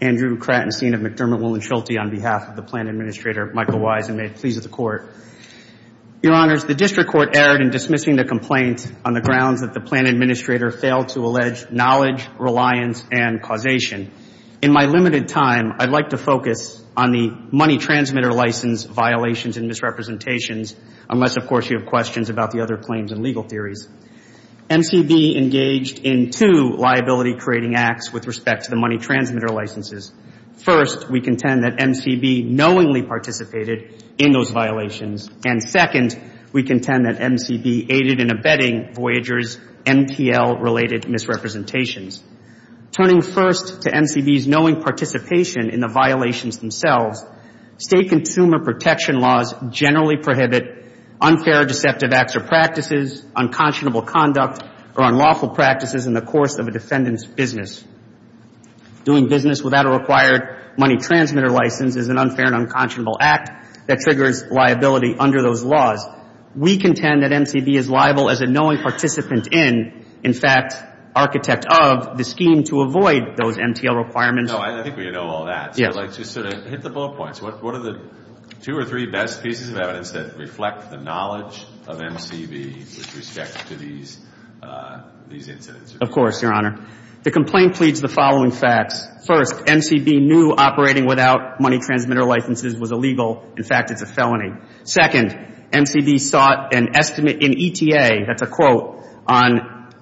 Andrew Kratenstein, of McDermott, Woolenshelty, on behalf of the Plan Administrator, Michael Wise. And may it please the Court. Your Honors, the District Court erred in dismissing the complaint on the grounds that the Plan Administrator failed to allege knowledge, reliance, and causation. In my limited time, I'd like to focus on the money transmitter license violations and misrepresentations, unless, of course, you have questions about the other claims and legal theories. MCB engaged in two liability-creating acts with respect to the money transmitter licenses. First, we contend that MCB knowingly participated in those violations, and second, we contend that MCB aided in abetting Voyager's MPL-related misrepresentations. Turning first to MCB's knowing participation in the violations themselves, State consumer protection laws generally prohibit unfair, deceptive acts or practices, unconscionable conduct, or unlawful practices in the course of a defendant's business. Doing business without a required money transmitter license is an unfair and unconscionable act that triggers liability under those laws. We contend that MCB is liable as a knowing participant in, in fact, architect of, the scheme to avoid those MTL requirements. No, I think we know all that. Yes. So I'd like to sort of hit the ball points. What are the two or three best pieces of evidence that reflect the knowledge of MCB with respect to these incidents? Of course, Your Honor. The complaint pleads the following facts. First, MCB knew operating without money transmitter licenses was illegal. In fact, it's a felony. Second, MCB sought an estimate in ETA, that's a quote, on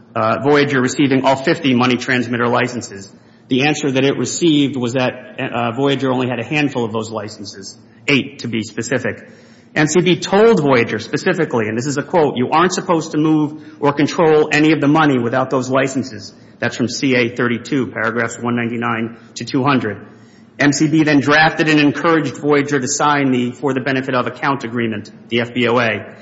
Voyager receiving all 50 money transmitter licenses. The answer that it received was that Voyager only had a handful of those licenses, eight to be specific. MCB told Voyager specifically, and this is a quote, you aren't supposed to move or control any of the money without those licenses. That's from CA 32, paragraphs 199 to 200. MCB then drafted and encouraged Voyager to sign the, for the benefit of account agreement, the FBOA.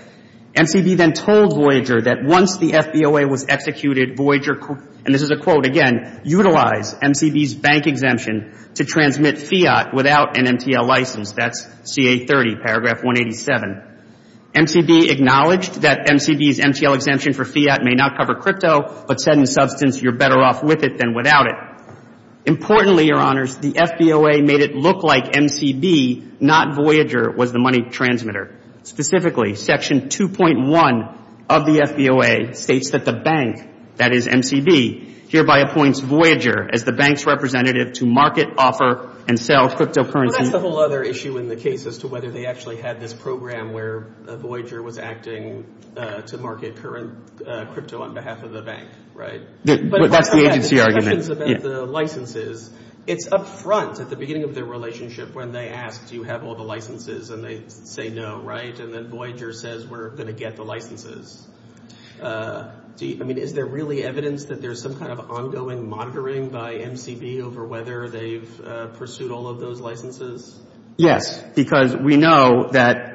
MCB then told Voyager that once the FBOA was executed, Voyager, and this is a quote again, utilize MCB's bank exemption to transmit fiat without an MTL license. That's CA 30, paragraph 187. MCB acknowledged that MCB's MTL exemption for fiat may not cover crypto, but said in substance, you're better off with it than without it. Importantly, your honors, the FBOA made it look like MCB, not Voyager, was the money transmitter. Specifically, section 2.1 of the FBOA states that the bank, that is MCB, hereby appoints Voyager as the bank's representative to market, offer, and sell cryptocurrency. Well, that's the whole other issue in the case as to whether they actually had this program where Voyager was acting to market current crypto on behalf of the bank, right? That's the agency argument. But the questions about the licenses, it's up front at the beginning of their relationship when they asked, do you have all the licenses, and they say no, right, and then Voyager says we're going to get the licenses. I mean, is there really evidence that there's some kind of ongoing monitoring by MCB over whether they've pursued all of those licenses? Yes, because we know that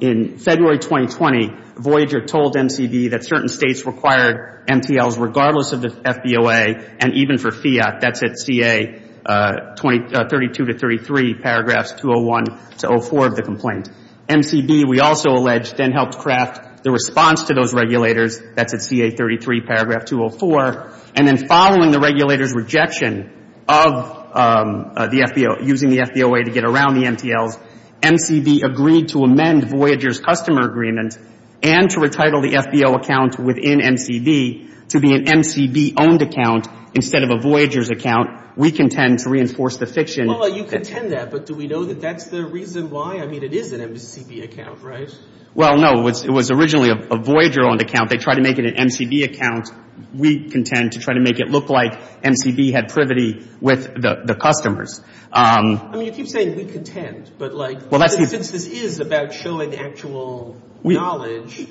in February 2020, Voyager told MCB that certain states required MTLs regardless of the FBOA and even for fiat. That's at CA 32 to 33, paragraphs 201 to 04 of the complaint. MCB, we also allege, then helped craft the response to those regulators. That's at CA 33, paragraph 204, and then following the regulator's rejection of the FBOA, using the FBOA to get around the MTLs, MCB agreed to amend Voyager's customer agreement and to retitle the FBO account within MCB to be an MCB-owned account instead of a Voyager's account. We contend to reinforce the fiction. Well, you contend that, but do we know that that's the reason why? I mean, it is an MCB account, right? Well, no. It was originally a Voyager-owned account. They tried to make it an MCB account. We contend to try to make it look like MCB had privity with the customers. I mean, you keep saying we contend, but like, since this is about showing actual knowledge,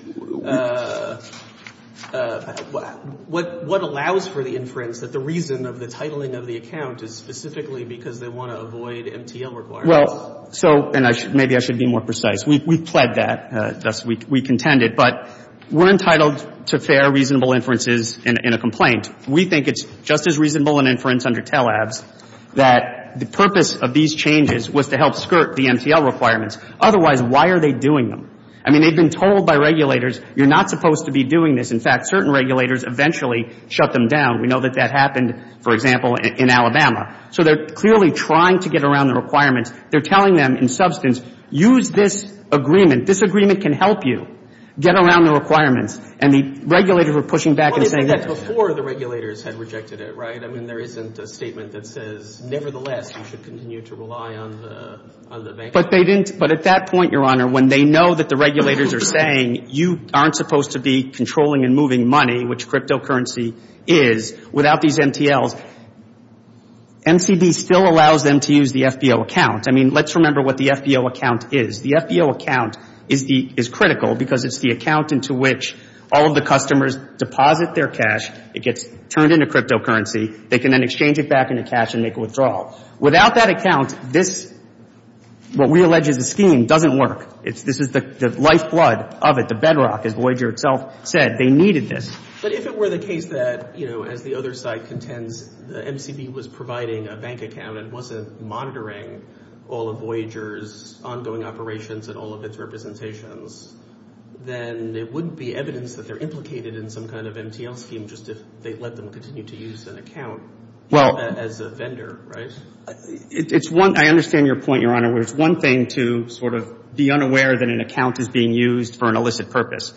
what allows for the inference that the reason of the titling of the account is specifically because they want to avoid MTL requirements? Well, so, and maybe I should be more precise. We pled that, thus we contended, but we're entitled to fair, reasonable inferences in a complaint. We think it's just as reasonable an inference under TELABS that the purpose of these changes was to help skirt the MTL requirements. Otherwise, why are they doing them? I mean, they've been told by regulators, you're not supposed to be doing this. In fact, certain regulators eventually shut them down. We know that that happened, for example, in Alabama. So they're clearly trying to get around the requirements. They're telling them in substance, use this agreement. This agreement can help you get around the requirements. And the regulators are pushing back and saying that. Before the regulators had rejected it, right? I mean, there isn't a statement that says, nevertheless, you should continue to rely on the bank. But they didn't. But at that point, Your Honor, when they know that the regulators are saying you aren't supposed to be controlling and moving money, which cryptocurrency is, without these MTLs, MCB still allows them to use the FBO account. I mean, let's remember what the FBO account is. The FBO account is critical because it's the account into which all of the customers deposit their cash. It gets turned into cryptocurrency. They can then exchange it back into cash and make a withdrawal. Without that account, this, what we allege is a scheme, doesn't work. This is the lifeblood of it, the bedrock. As Voyager itself said, they needed this. But if it were the case that, you know, as the other side contends, the MCB was providing a bank account and wasn't monitoring all of Voyager's ongoing operations and all of its representations, then it wouldn't be evidence that they're implicated in some kind of MTL scheme just if they let them continue to use an account as a vendor, right? Well, it's one, I understand your point, Your Honor, where it's one thing to sort of be unaware that an account is being used for an illicit purpose.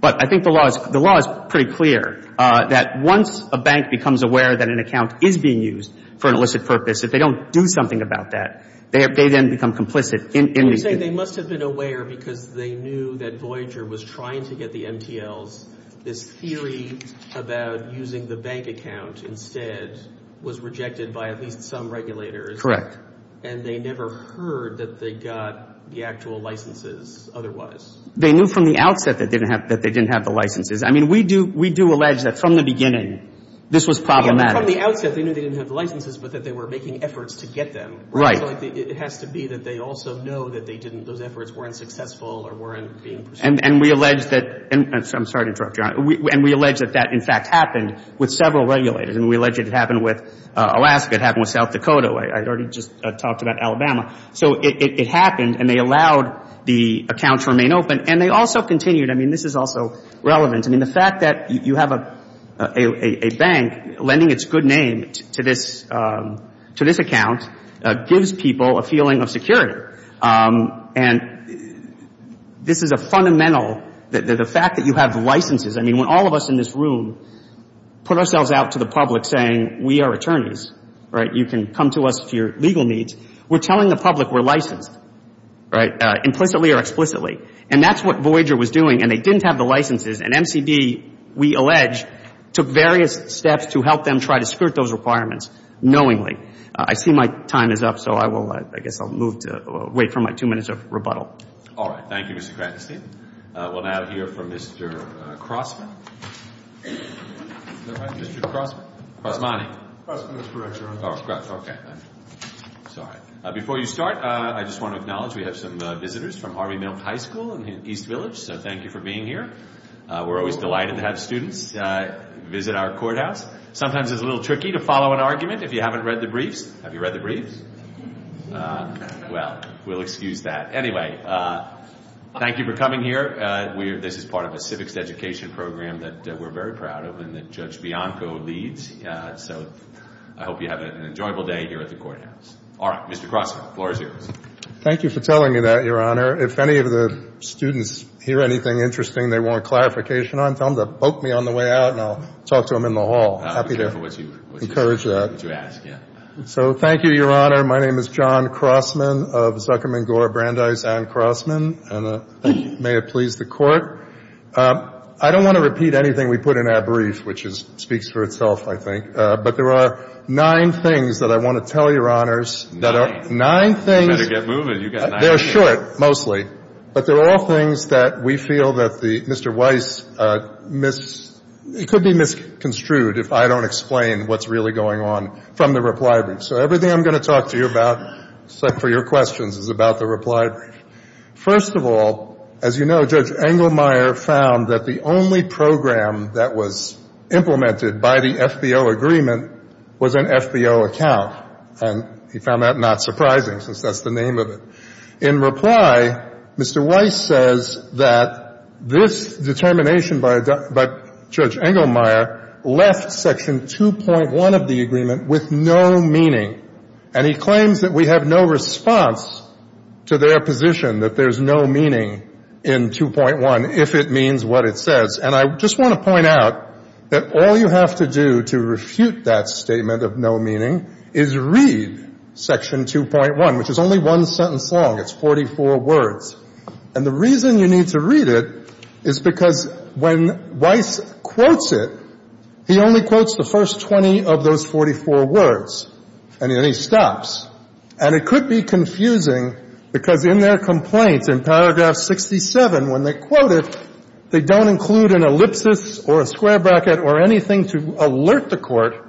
But I think the law is pretty clear that once a bank becomes aware that an account is being used for an illicit purpose, if they don't do something about that, they then become complicit in the... You're saying they must have been aware because they knew that Voyager was trying to get the MTLs. This theory about using the bank account instead was rejected by at least some regulators. Correct. And they never heard that they got the actual licenses otherwise. They knew from the outset that they didn't have the licenses. I mean, we do allege that from the beginning this was problematic. From the outset they knew they didn't have the licenses but that they were making efforts to get them. Right. So it has to be that they also know that they didn't, those efforts weren't successful or weren't being pursued. And we allege that, I'm sorry to interrupt, Your Honor, and we allege that that in fact happened with several regulators. And we allege it happened with Alaska, it happened with South Dakota. I already just talked about Alabama. So it happened and they allowed the accounts to remain open. And they also continued, I mean, this is also relevant. I mean, the fact that you have a bank lending its good name to this account gives people a feeling of security. And this is a fundamental, the fact that you have the licenses. I mean, when all of us in this room put ourselves out to the public saying we are attorneys, right, you can come to us for your legal needs. We're telling the public we're licensed, right, implicitly or explicitly. And that's what Voyager was doing. And they didn't have the licenses. And MCB, we allege, took various steps to help them try to skirt those requirements knowingly. I see my time is up. So I will, I guess I'll move to, wait for my two minutes of rebuttal. All right. Thank you, Mr. Kratenstein. We'll now hear from Mr. Crossman. Is that right? Mr. Crossman. Crossmani. Crossman is correct, Your Honor. Oh, okay. Sorry. Before you start, I just want to acknowledge we have some visitors from Harvey Milk High School in East Village. So thank you for being here. We're always delighted to have students visit our courthouse. Sometimes it's a little tricky to follow an argument if you haven't read the briefs. Have you read the briefs? Well, we'll excuse that. Anyway, thank you for coming here. This is part of a civics education program that we're very proud of and that Judge Bianco leads. So I hope you have an enjoyable day here at the courthouse. All right. Mr. Crossman, the floor is yours. Thank you for telling me that, Your Honor. If any of the students hear anything interesting they want clarification on, tell them to poke me on the way out, and I'll talk to them in the hall. I'll be careful what you ask, yeah. So thank you, Your Honor. My name is John Crossman of Zuckerman Gore Brandeis and Crossman. And may it please the Court. I don't want to repeat anything we put in that brief, which speaks for itself, but there are nine things that I want to tell Your Honors. Nine? Nine things. You better get moving. You've got nine minutes. They're short, mostly. But they're all things that we feel that Mr. Weiss could be misconstrued if I don't explain what's really going on from the reply brief. So everything I'm going to talk to you about for your questions is about the reply brief. First of all, as you know, Judge Engelmeyer found that the only program that was implemented by the FBO agreement was an FBO account. And he found that not surprising, since that's the name of it. In reply, Mr. Weiss says that this determination by Judge Engelmeyer left Section 2.1 of the agreement with no meaning. And he claims that we have no response to their position that there's no meaning in 2.1 if it means what it says. And I just want to point out that all you have to do to refute that statement of no meaning is read Section 2.1, which is only one sentence long. It's 44 words. And the reason you need to read it is because when Weiss quotes it, he only quotes the first 20 of those 44 words. And then he stops. And it could be confusing, because in their complaint in paragraph 67, when they quote it, they don't include an ellipsis or a square bracket or anything to alert the Court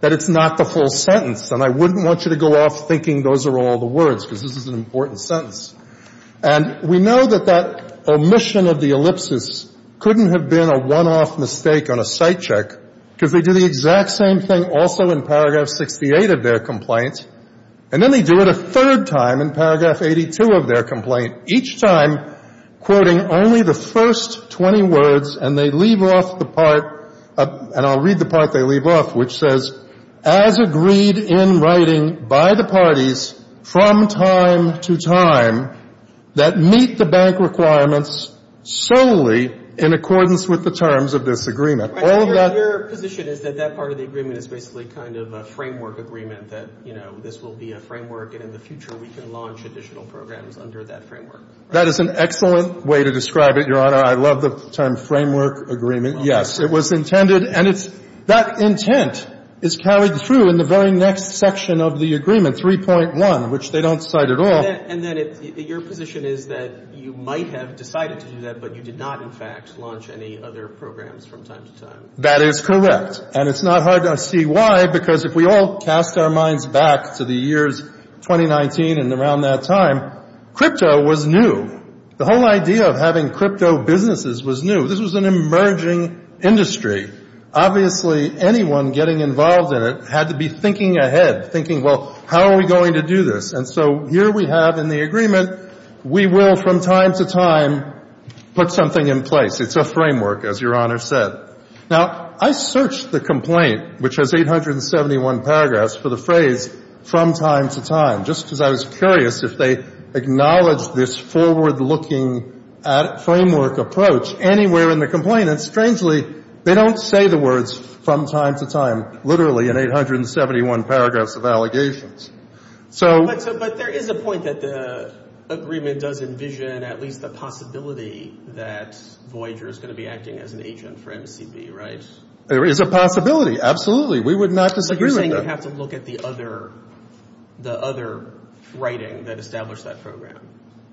that it's not the full sentence. And I wouldn't want you to go off thinking those are all the words, because this is an important sentence. And we know that that omission of the ellipsis couldn't have been a one-off mistake on a sight check, because they do the exact same thing also in paragraph 68 of their complaint. And then they do it a third time in paragraph 82 of their complaint, each time quoting only the first 20 words. And they leave off the part, and I'll read the part they leave off, which says, as agreed in writing by the parties from time to time that meet the bank requirements solely in accordance with the terms of this agreement. All of that — Your position is that that part of the agreement is basically kind of a framework agreement, that, you know, this will be a framework, and in the future we can launch additional programs under that framework. That is an excellent way to describe it, Your Honor. I love the term framework agreement. Yes, it was intended — and it's — that intent is carried through in the very next section of the agreement, 3.1, which they don't cite at all. And then your position is that you might have decided to do that, but you did not, in fact, launch any other programs from time to time. That is correct. And it's not hard to see why, because if we all cast our minds back to the years 2019 and around that time, crypto was new. The whole idea of having crypto businesses was new. This was an emerging industry. Obviously, anyone getting involved in it had to be thinking ahead, thinking, well, how are we going to do this? And so here we have in the agreement, we will from time to time put something in place. It's a framework, as Your Honor said. Now, I searched the complaint, which has 871 paragraphs, for the phrase from time to time, just because I was curious if they acknowledged this forward-looking framework approach anywhere in the complaint. And strangely, they don't say the words from time to time, literally in 871 paragraphs of allegations. So — But there is a point that the agreement does envision at least the possibility that Voyager is going to be acting as an agent for MCB, right? There is a possibility, absolutely. We would not disagree with that. We'd have to look at the other writing that established that program.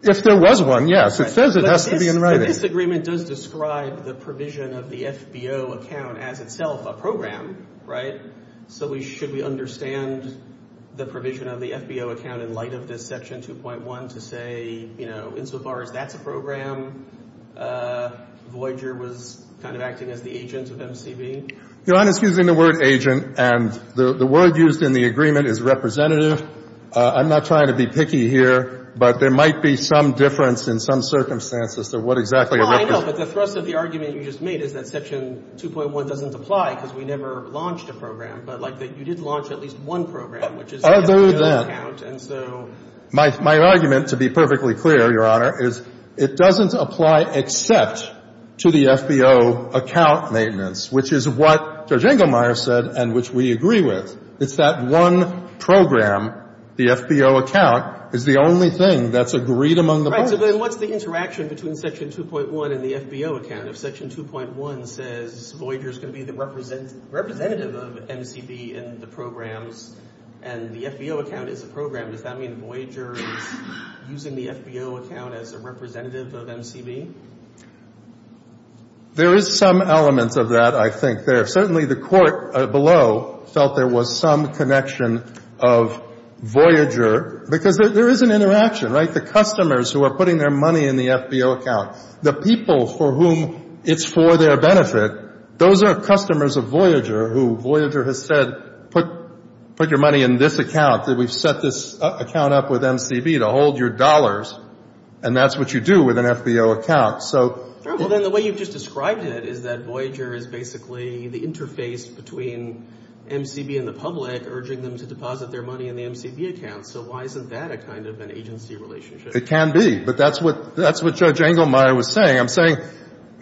If there was one, yes. It says it has to be in writing. But this agreement does describe the provision of the FBO account as itself a program, right? So should we understand the provision of the FBO account in light of this Section 2.1 to say, you know, insofar as that's a program, Voyager was kind of acting as the agent of MCB? Your Honor, excuse me. The word agent and the word used in the agreement is representative. I'm not trying to be picky here, but there might be some difference in some circumstances to what exactly a — Well, I know. But the thrust of the argument you just made is that Section 2.1 doesn't apply because we never launched a program. But, like, you did launch at least one program, which is the FBO account, and so — Other than — My argument, to be perfectly clear, Your Honor, is it doesn't apply except to the FBO account maintenance, which is what Judge Inglemeyer said and which we agree with. It's that one program, the FBO account, is the only thing that's agreed among the So then what's the interaction between Section 2.1 and the FBO account? If Section 2.1 says Voyager is going to be the representative of MCB in the programs and the FBO account is a program, does that mean Voyager is using the FBO account as a representative of MCB? There is some element of that, I think, there. Certainly, the court below felt there was some connection of Voyager, because there is an interaction, right? The customers who are putting their money in the FBO account, the people for whom it's for their benefit, those are customers of Voyager who Voyager has said, put your money in this account, that we've set this account up with MCB to hold your dollars, and that's what you do with an FBO account. So All right. Well, then the way you've just described it is that Voyager is basically the interface between MCB and the public urging them to deposit their money in the MCB account. So why isn't that a kind of an agency relationship? It can be. But that's what Judge Englemeyer was saying. I'm saying,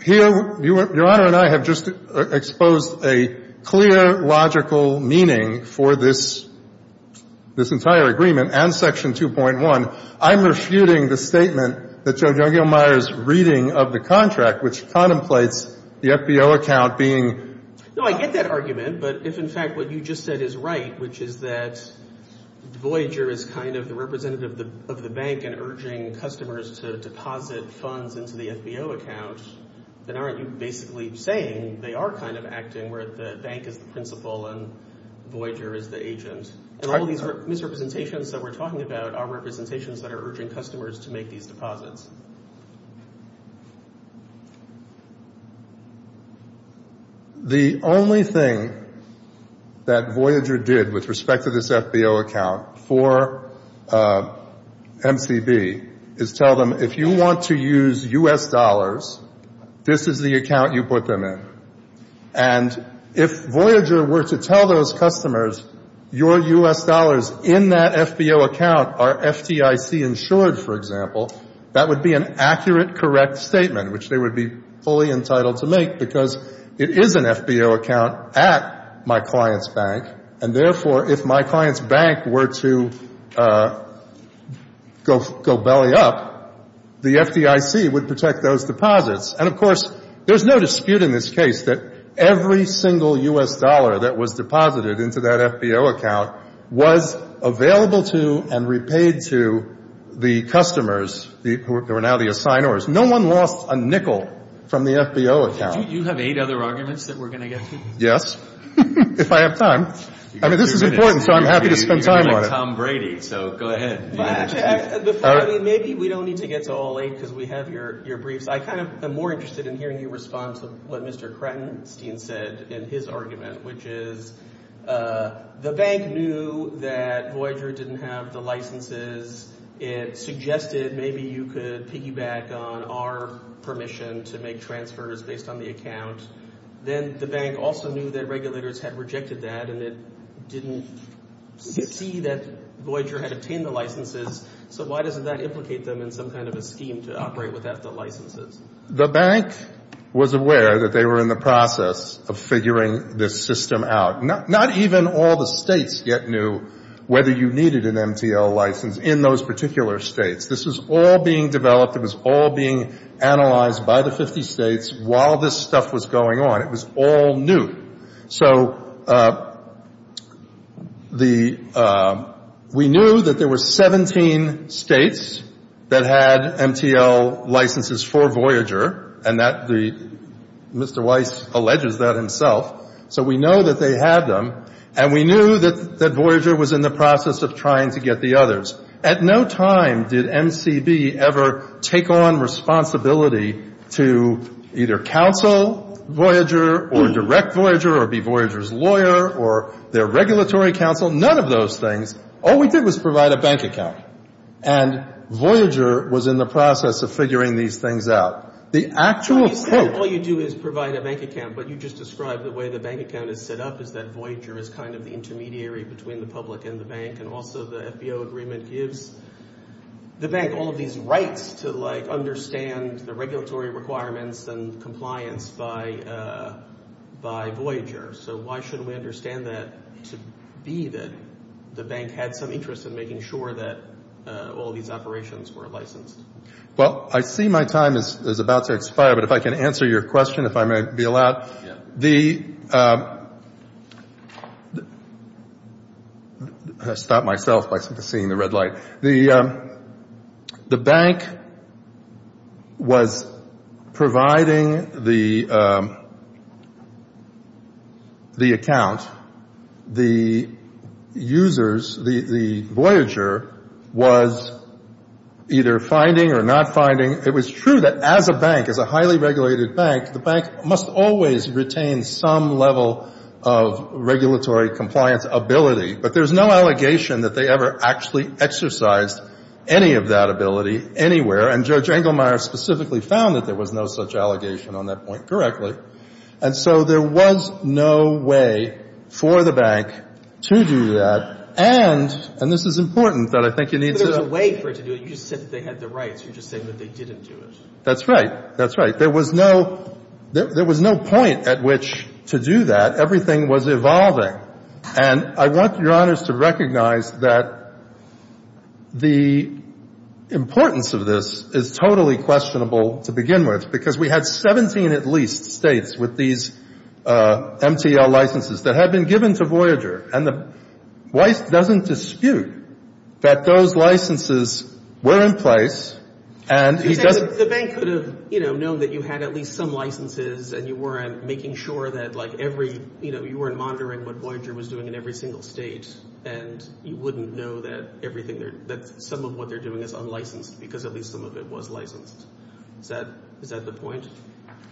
here, Your Honor and I have just exposed a clear, logical meaning for this entire agreement and Section 2.1. I'm refuting the statement that Judge Englemeyer's reading of the contract, which contemplates the FBO account being No, I get that argument. But if, in fact, what you just said is right, which is that Voyager is kind of the representative of the bank and urging customers to deposit funds into the FBO account, then aren't you basically saying they are kind of acting where the bank is the principal and Voyager is the And all these misrepresentations that we're talking about are representations that are urging customers to make these deposits. The only thing that Voyager did with respect to this FBO account for MCB is tell them, if you want to use U.S. dollars, this is the account you put them in. And if Voyager were to tell those customers, your U.S. dollars in that FBO account are FDIC insured, for example, that would be an accurate, correct statement, which they would be fully entitled to make, because it is an FBO account at my client's bank. And therefore, if my client's bank were to go belly up, the FDIC would protect those deposits. And of course, there's no dispute in this case that every single U.S. dollar that was deposited into that FBO account was available to and repaid to the customers who are now the assigners. No one lost a nickel from the FBO account. You have eight other arguments that we're going to get to? Yes, if I have time. I mean, this is important, so I'm happy to spend time on it. You're like Tom Brady, so go ahead. Maybe we don't need to get to all eight because we have your briefs. I'm more interested in hearing your response to what Mr. Kratenstein said in his argument, which is the bank knew that Voyager didn't have the licenses. It suggested maybe you could piggyback on our permission to make transfers based on the account. Then the bank also knew that regulators had rejected that, and it didn't see that Voyager had obtained the licenses, so why doesn't that implicate them in some kind of a scheme to operate without the licenses? The bank was aware that they were in the process of figuring this system out. Not even all the states yet knew whether you needed an MTL license in those particular states. This was all being developed. It was all being analyzed by the 50 states while this stuff was going on. It was all new. So we knew that there were 17 states that had MTL licenses for Voyager, and Mr. Weiss alleges that himself. So we know that they had them, and we knew that Voyager was in the process of trying to get the others. At no time did MCB ever take on responsibility to either counsel Voyager or direct Voyager or be Voyager's lawyer or their regulatory counsel. None of those things. All we did was provide a bank account, and Voyager was in the process of figuring these things out. The actual quote— All you do is provide a bank account, but you just described the way the bank account is set up is that Voyager is kind of the intermediary between the public and the bank, and also the FBO agreement gives the bank all of these rights to, like, understand the regulatory requirements and compliance by Voyager. So why shouldn't we understand that to be that the bank had some interest in making sure that all these operations were licensed? Well, I see my time is about to expire, but if I can answer your question, if I may be allowed. The—I stopped myself by seeing the red light. The bank was providing the account. The users, the Voyager, was either finding or not finding. It was true that as a bank, as a highly regulated bank, the bank must always retain some level of regulatory compliance ability. But there's no allegation that they ever actually exercised any of that ability anywhere, and Judge Engelmeyer specifically found that there was no such allegation on that point correctly. And so there was no way for the bank to do that, and—and this is important, that I think you need to— But there's a way for it to do it. You just said that they had the rights. You're just saying that they didn't do it. That's right. That's right. There was no—there was no point at which to do that. Everything was evolving. And I want Your Honors to recognize that the importance of this is totally questionable to begin with, because we had 17 at least States with these MTL licenses that had been given to Voyager. And the—Weiss doesn't dispute that those licenses were in place, and he doesn't— The bank could have, you know, known that you had at least some licenses and you weren't making sure that, like, every—you know, you weren't monitoring what Voyager was doing in every single State, and you wouldn't know that everything—that some of what they're doing is unlicensed because at least some of it was licensed. Is that—is that the point?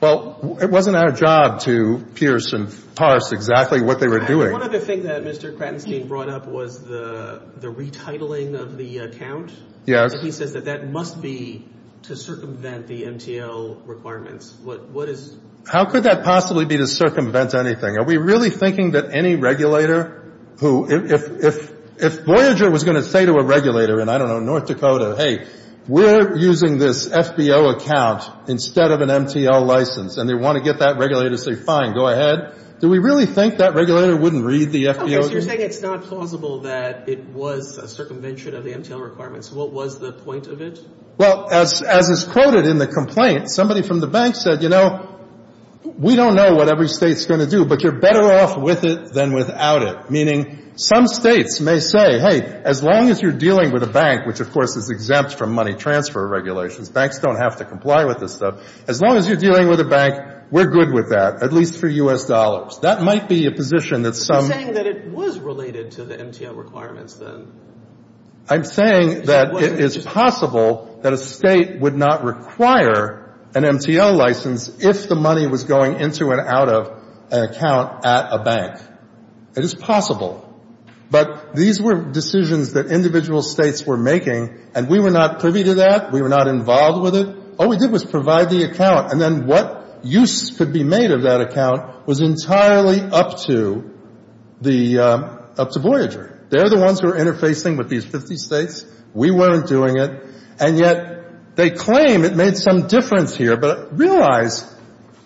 Well, it wasn't our job to pierce and parse exactly what they were doing. One other thing that Mr. Kratenstein brought up was the retitling of the account. Yes. He says that that must be to circumvent the MTL requirements. What is— How could that possibly be to circumvent anything? Are we really thinking that any regulator who—if Voyager was going to say to a regulator in, I don't know, North Dakota, hey, we're using this FBO account instead of an MTL license, and they want to get that regulator to say, fine, go ahead, do we really think that regulator wouldn't read the FBO— Oh, so you're saying it's not plausible that it was a circumvention of the MTL requirements. What was the point of it? Well, as—as is quoted in the complaint, somebody from the banks said, you know, we don't know what every State's going to do, but you're better off with it than without it, meaning some States may say, hey, as long as you're dealing with a bank, which, of course, is exempt from money transfer regulations, banks don't have to comply with this stuff, as long as you're dealing with a bank, we're good with that, at least for U.S. dollars. That might be a position that some— You're saying that it was related to the MTL requirements, then? I'm saying that it is possible that a State would not require an MTL license if the money was going into and out of an account at a bank. It is possible. But these were decisions that individual States were making, and we were not privy to that. We were not involved with it. All we did was provide the account, and then what use could be made of that account was entirely up to the—up to Voyager. They're the ones who are interfacing with these 50 States. We weren't doing it. And yet they claim it made some difference here, but realize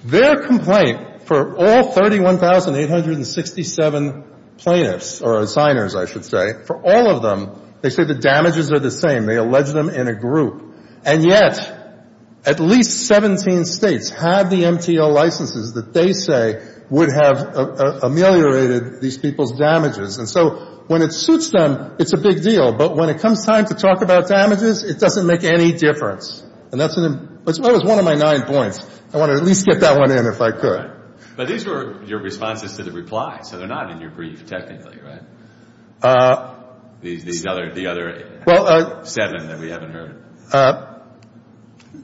their complaint for all 31,867 plaintiffs—or signers, I should say—for all of them, they say the damages are the same. They allege them in a group. And yet at least 17 States have the MTL licenses that they say would have ameliorated these people's damages. And so when it suits them, it's a big deal. But when it comes time to talk about damages, it doesn't make any difference. And that's an—that was one of my nine points. I want to at least get that one in if I could. But these were your responses to the reply, so they're not in your brief, technically, right? These other—the other seven that we haven't heard.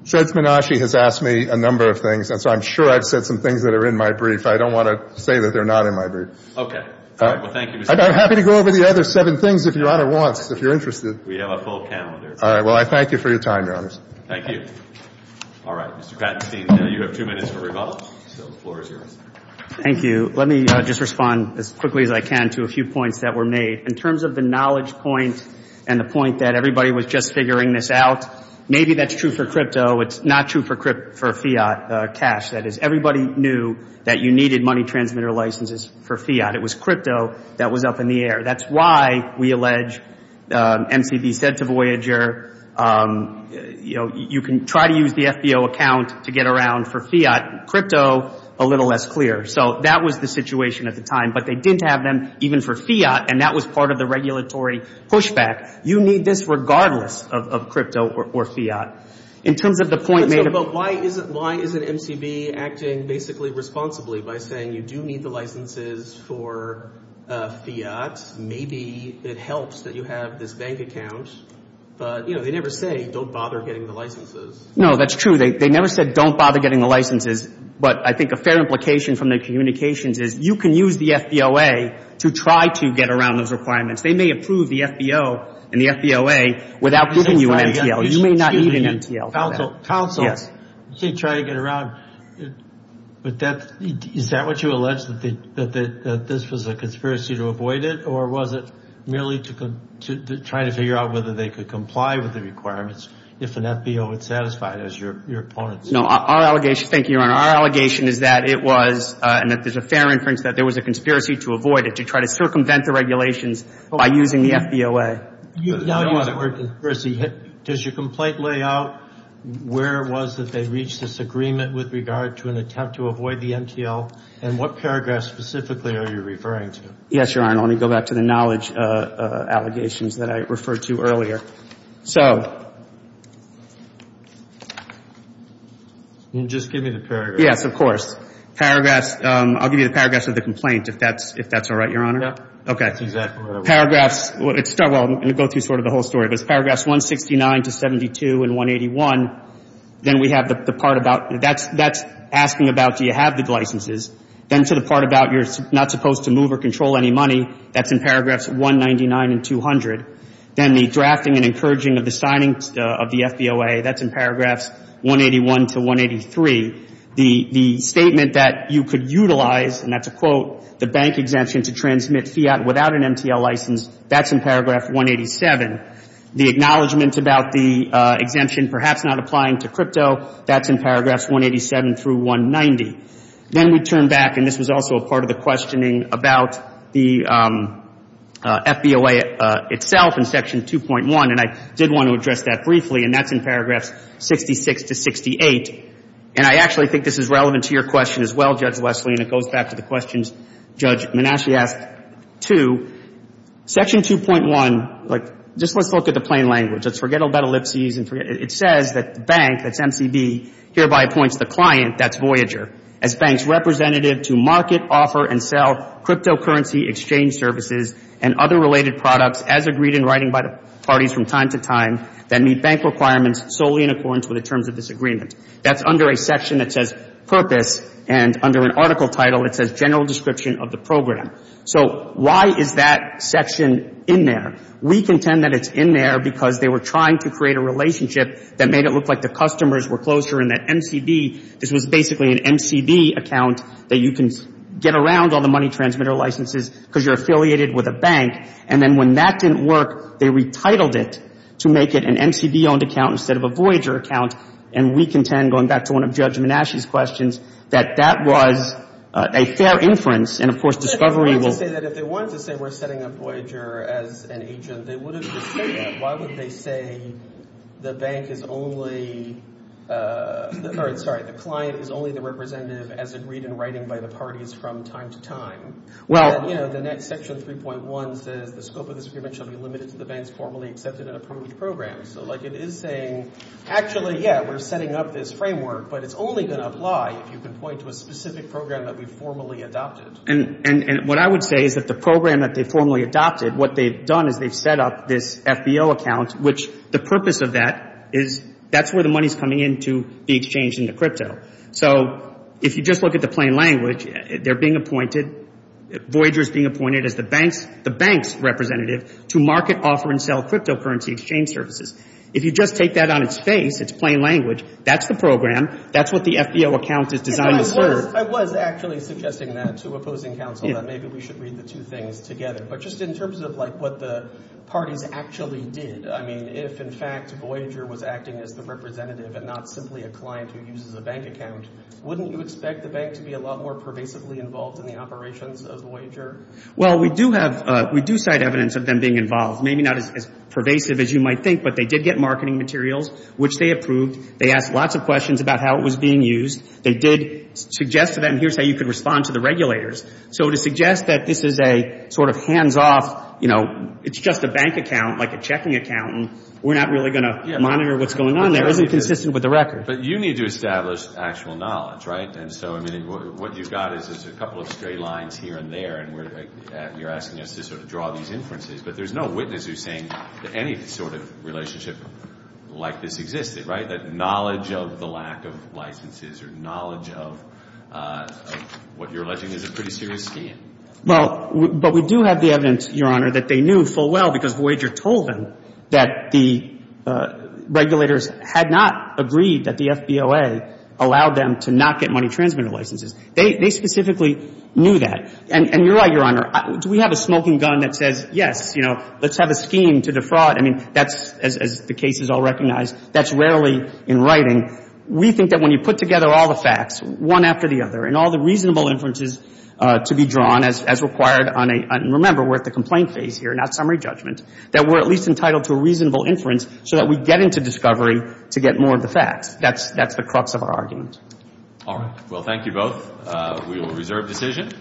Judge Menasche has asked me a number of things, and so I'm sure I've said some things that are in my brief. I don't want to say that they're not in my brief. Okay. All right. Well, thank you, Mr. Kratenstein. I'm happy to go over the other seven things if Your Honor wants, if you're interested. We have a full calendar. All right. Well, I thank you for your time, Your Honors. Thank you. All right. Mr. Kratenstein, now you have two minutes for rebuttal, so the floor is yours. Thank you. Let me just respond as quickly as I can to a few points that were made. In terms of the knowledge point and the point that everybody was just figuring this out, maybe that's true for crypto. It's not true for fiat cash. That is, everybody knew that you needed money transmitter licenses for fiat. It was crypto that was up in the air. That's why we allege, MCB said to Voyager, you know, you can try to use the FBO account to get around for fiat. Crypto, a little less clear. So that was the situation at the time. But they didn't have them even for fiat, and that was part of the regulatory pushback. You need this regardless of crypto or fiat. In terms of the point made about why isn't MCB acting basically responsibly by saying you do need the licenses for fiat. Maybe it helps that you have this bank account. But, you know, they never say don't bother getting the licenses. No, that's true. They never said don't bother getting the licenses. But I think a fair implication from the communications is you can use the FBOA to try to get around those requirements. They may approve the FBO and the FBOA without giving you an MTL. You may not need an MTL for that. Counsel, you can try to get around, but is that what you allege, that this was a conspiracy to avoid it, or was it merely to try to figure out whether they could comply with the requirements if an FBO would satisfy it as your opponents? No, our allegation, thank you, Your Honor. Our allegation is that it was, and that there's a fair inference that there was a conspiracy to avoid it, to try to circumvent the regulations by using the FBOA. You now use the word conspiracy. Does your complaint lay out where it was that they reached this agreement with regard to an attempt to avoid the MTL, and what paragraph specifically are you referring to? Yes, Your Honor. Let me go back to the knowledge allegations that I referred to earlier. So. And just give me the paragraph. Yes, of course. Paragraphs. I'll give you the paragraphs of the complaint, if that's all right, Your Honor. Yeah. Okay. Paragraphs, well, I'm going to go through sort of the whole story. There's paragraphs 169 to 72 and 181. Then we have the part about, that's asking about do you have the licenses. Then to the part about you're not supposed to move or control any money, that's in paragraphs 199 and 200. Then the drafting and encouraging of the signing of the FBOA, that's in paragraphs 181 to 183. The statement that you could utilize, and that's a quote, the bank exemption to transmit fiat without an MTL license, that's in paragraph 187. The acknowledgment about the exemption perhaps not applying to crypto, that's in paragraphs 187 through 190. Then we turn back, and this was also a part of the questioning about the FBOA itself in section 2.1, and I did want to address that briefly, and that's in paragraphs 66 to 68. And I actually think this is relevant to your question as well, Judge Wesley, and it goes back to the questions Judge Manasci asked too. Section 2.1, like, just let's look at the plain language. Let's forget about ellipses and forget. It says that the bank, that's MCB, hereby appoints the client, that's Voyager, as bank's representative to market, offer, and sell cryptocurrency exchange services and other related products as agreed in writing by the parties from time to time that meet bank requirements solely in accordance with the terms of this agreement. That's under a section that says purpose, and under an article title, it says general description of the program. So why is that section in there? We contend that it's in there because they were trying to create a relationship that made it look like the customers were closer, and that MCB, this was basically an MCB account that you can get around all the money transmitter licenses because you're affiliated with a bank. And then when that didn't work, they retitled it to make it an MCB-owned account instead of a Voyager account. And we contend, going back to one of Judge Menasche's questions, that that was a fair inference. And, of course, discovery will... But they wanted to say that if they wanted to say we're setting up Voyager as an agent, they would have just said that. Why would they say the bank is only, or sorry, the client is only the representative as agreed in writing by the parties from time to time? Well... And, you know, the next section, 3.1, says the scope of this agreement shall be limited to the bank's formally accepted and approved programs. So, like, it is saying, actually, yeah, we're setting up this framework, but it's only going to apply if you can point to a specific program that we formally adopted. And what I would say is that the program that they formally adopted, what they've done is they've set up this FBO account, which the purpose of that is that's where the money's coming in to be exchanged into crypto. So if you just look at the plain language, they're being appointed, Voyager's being appointed as the bank's representative to market, offer, and sell cryptocurrency exchange services. If you just take that on its face, its plain language, that's the program, that's what the FBO account is designed to serve. I was actually suggesting that to opposing counsel that maybe we should read the two things together. But just in terms of, like, what the parties actually did, I mean, if, in fact, Voyager was acting as the representative and not simply a client who uses a bank account, wouldn't you expect the bank to be a lot more pervasively involved in the operations of Voyager? Well, we do have, we do cite evidence of them being involved. Maybe not as pervasive as you might think, but they did get marketing materials, which they approved. They asked lots of questions about how it was being used. They did suggest to them, here's how you could respond to the regulators. So to suggest that this is a sort of hands off, you know, it's just a bank account, like a checking account, and we're not really going to monitor what's going on there isn't consistent with the record. But you need to establish actual knowledge, right? And so, I mean, what you've got is a couple of straight lines here and there, and you're asking us to sort of draw these inferences. But there's no witness who's saying that any sort of relationship like this existed, right? That knowledge of the lack of licenses or knowledge of what you're alleging is a pretty serious scheme. Well, but we do have the evidence, Your Honor, that they knew full well, because Voyager told them that the regulators had not agreed that the FBOA allowed them to not get money transmitted licenses. They specifically knew that. And you're right, Your Honor, do we have a smoking gun that says, yes, you know, let's have a scheme to defraud? I mean, that's, as the case is all recognized, that's rarely in writing. We think that when you put together all the facts, one after the other, and all the reasonable inferences to be drawn as required on a, and remember, we're at the complaint phase here, not summary judgment, that we're at least entitled to a reasonable inference so that we get into discovery to get more of the facts. That's the crux of our argument. All right. Well, thank you both. We will reserve decision.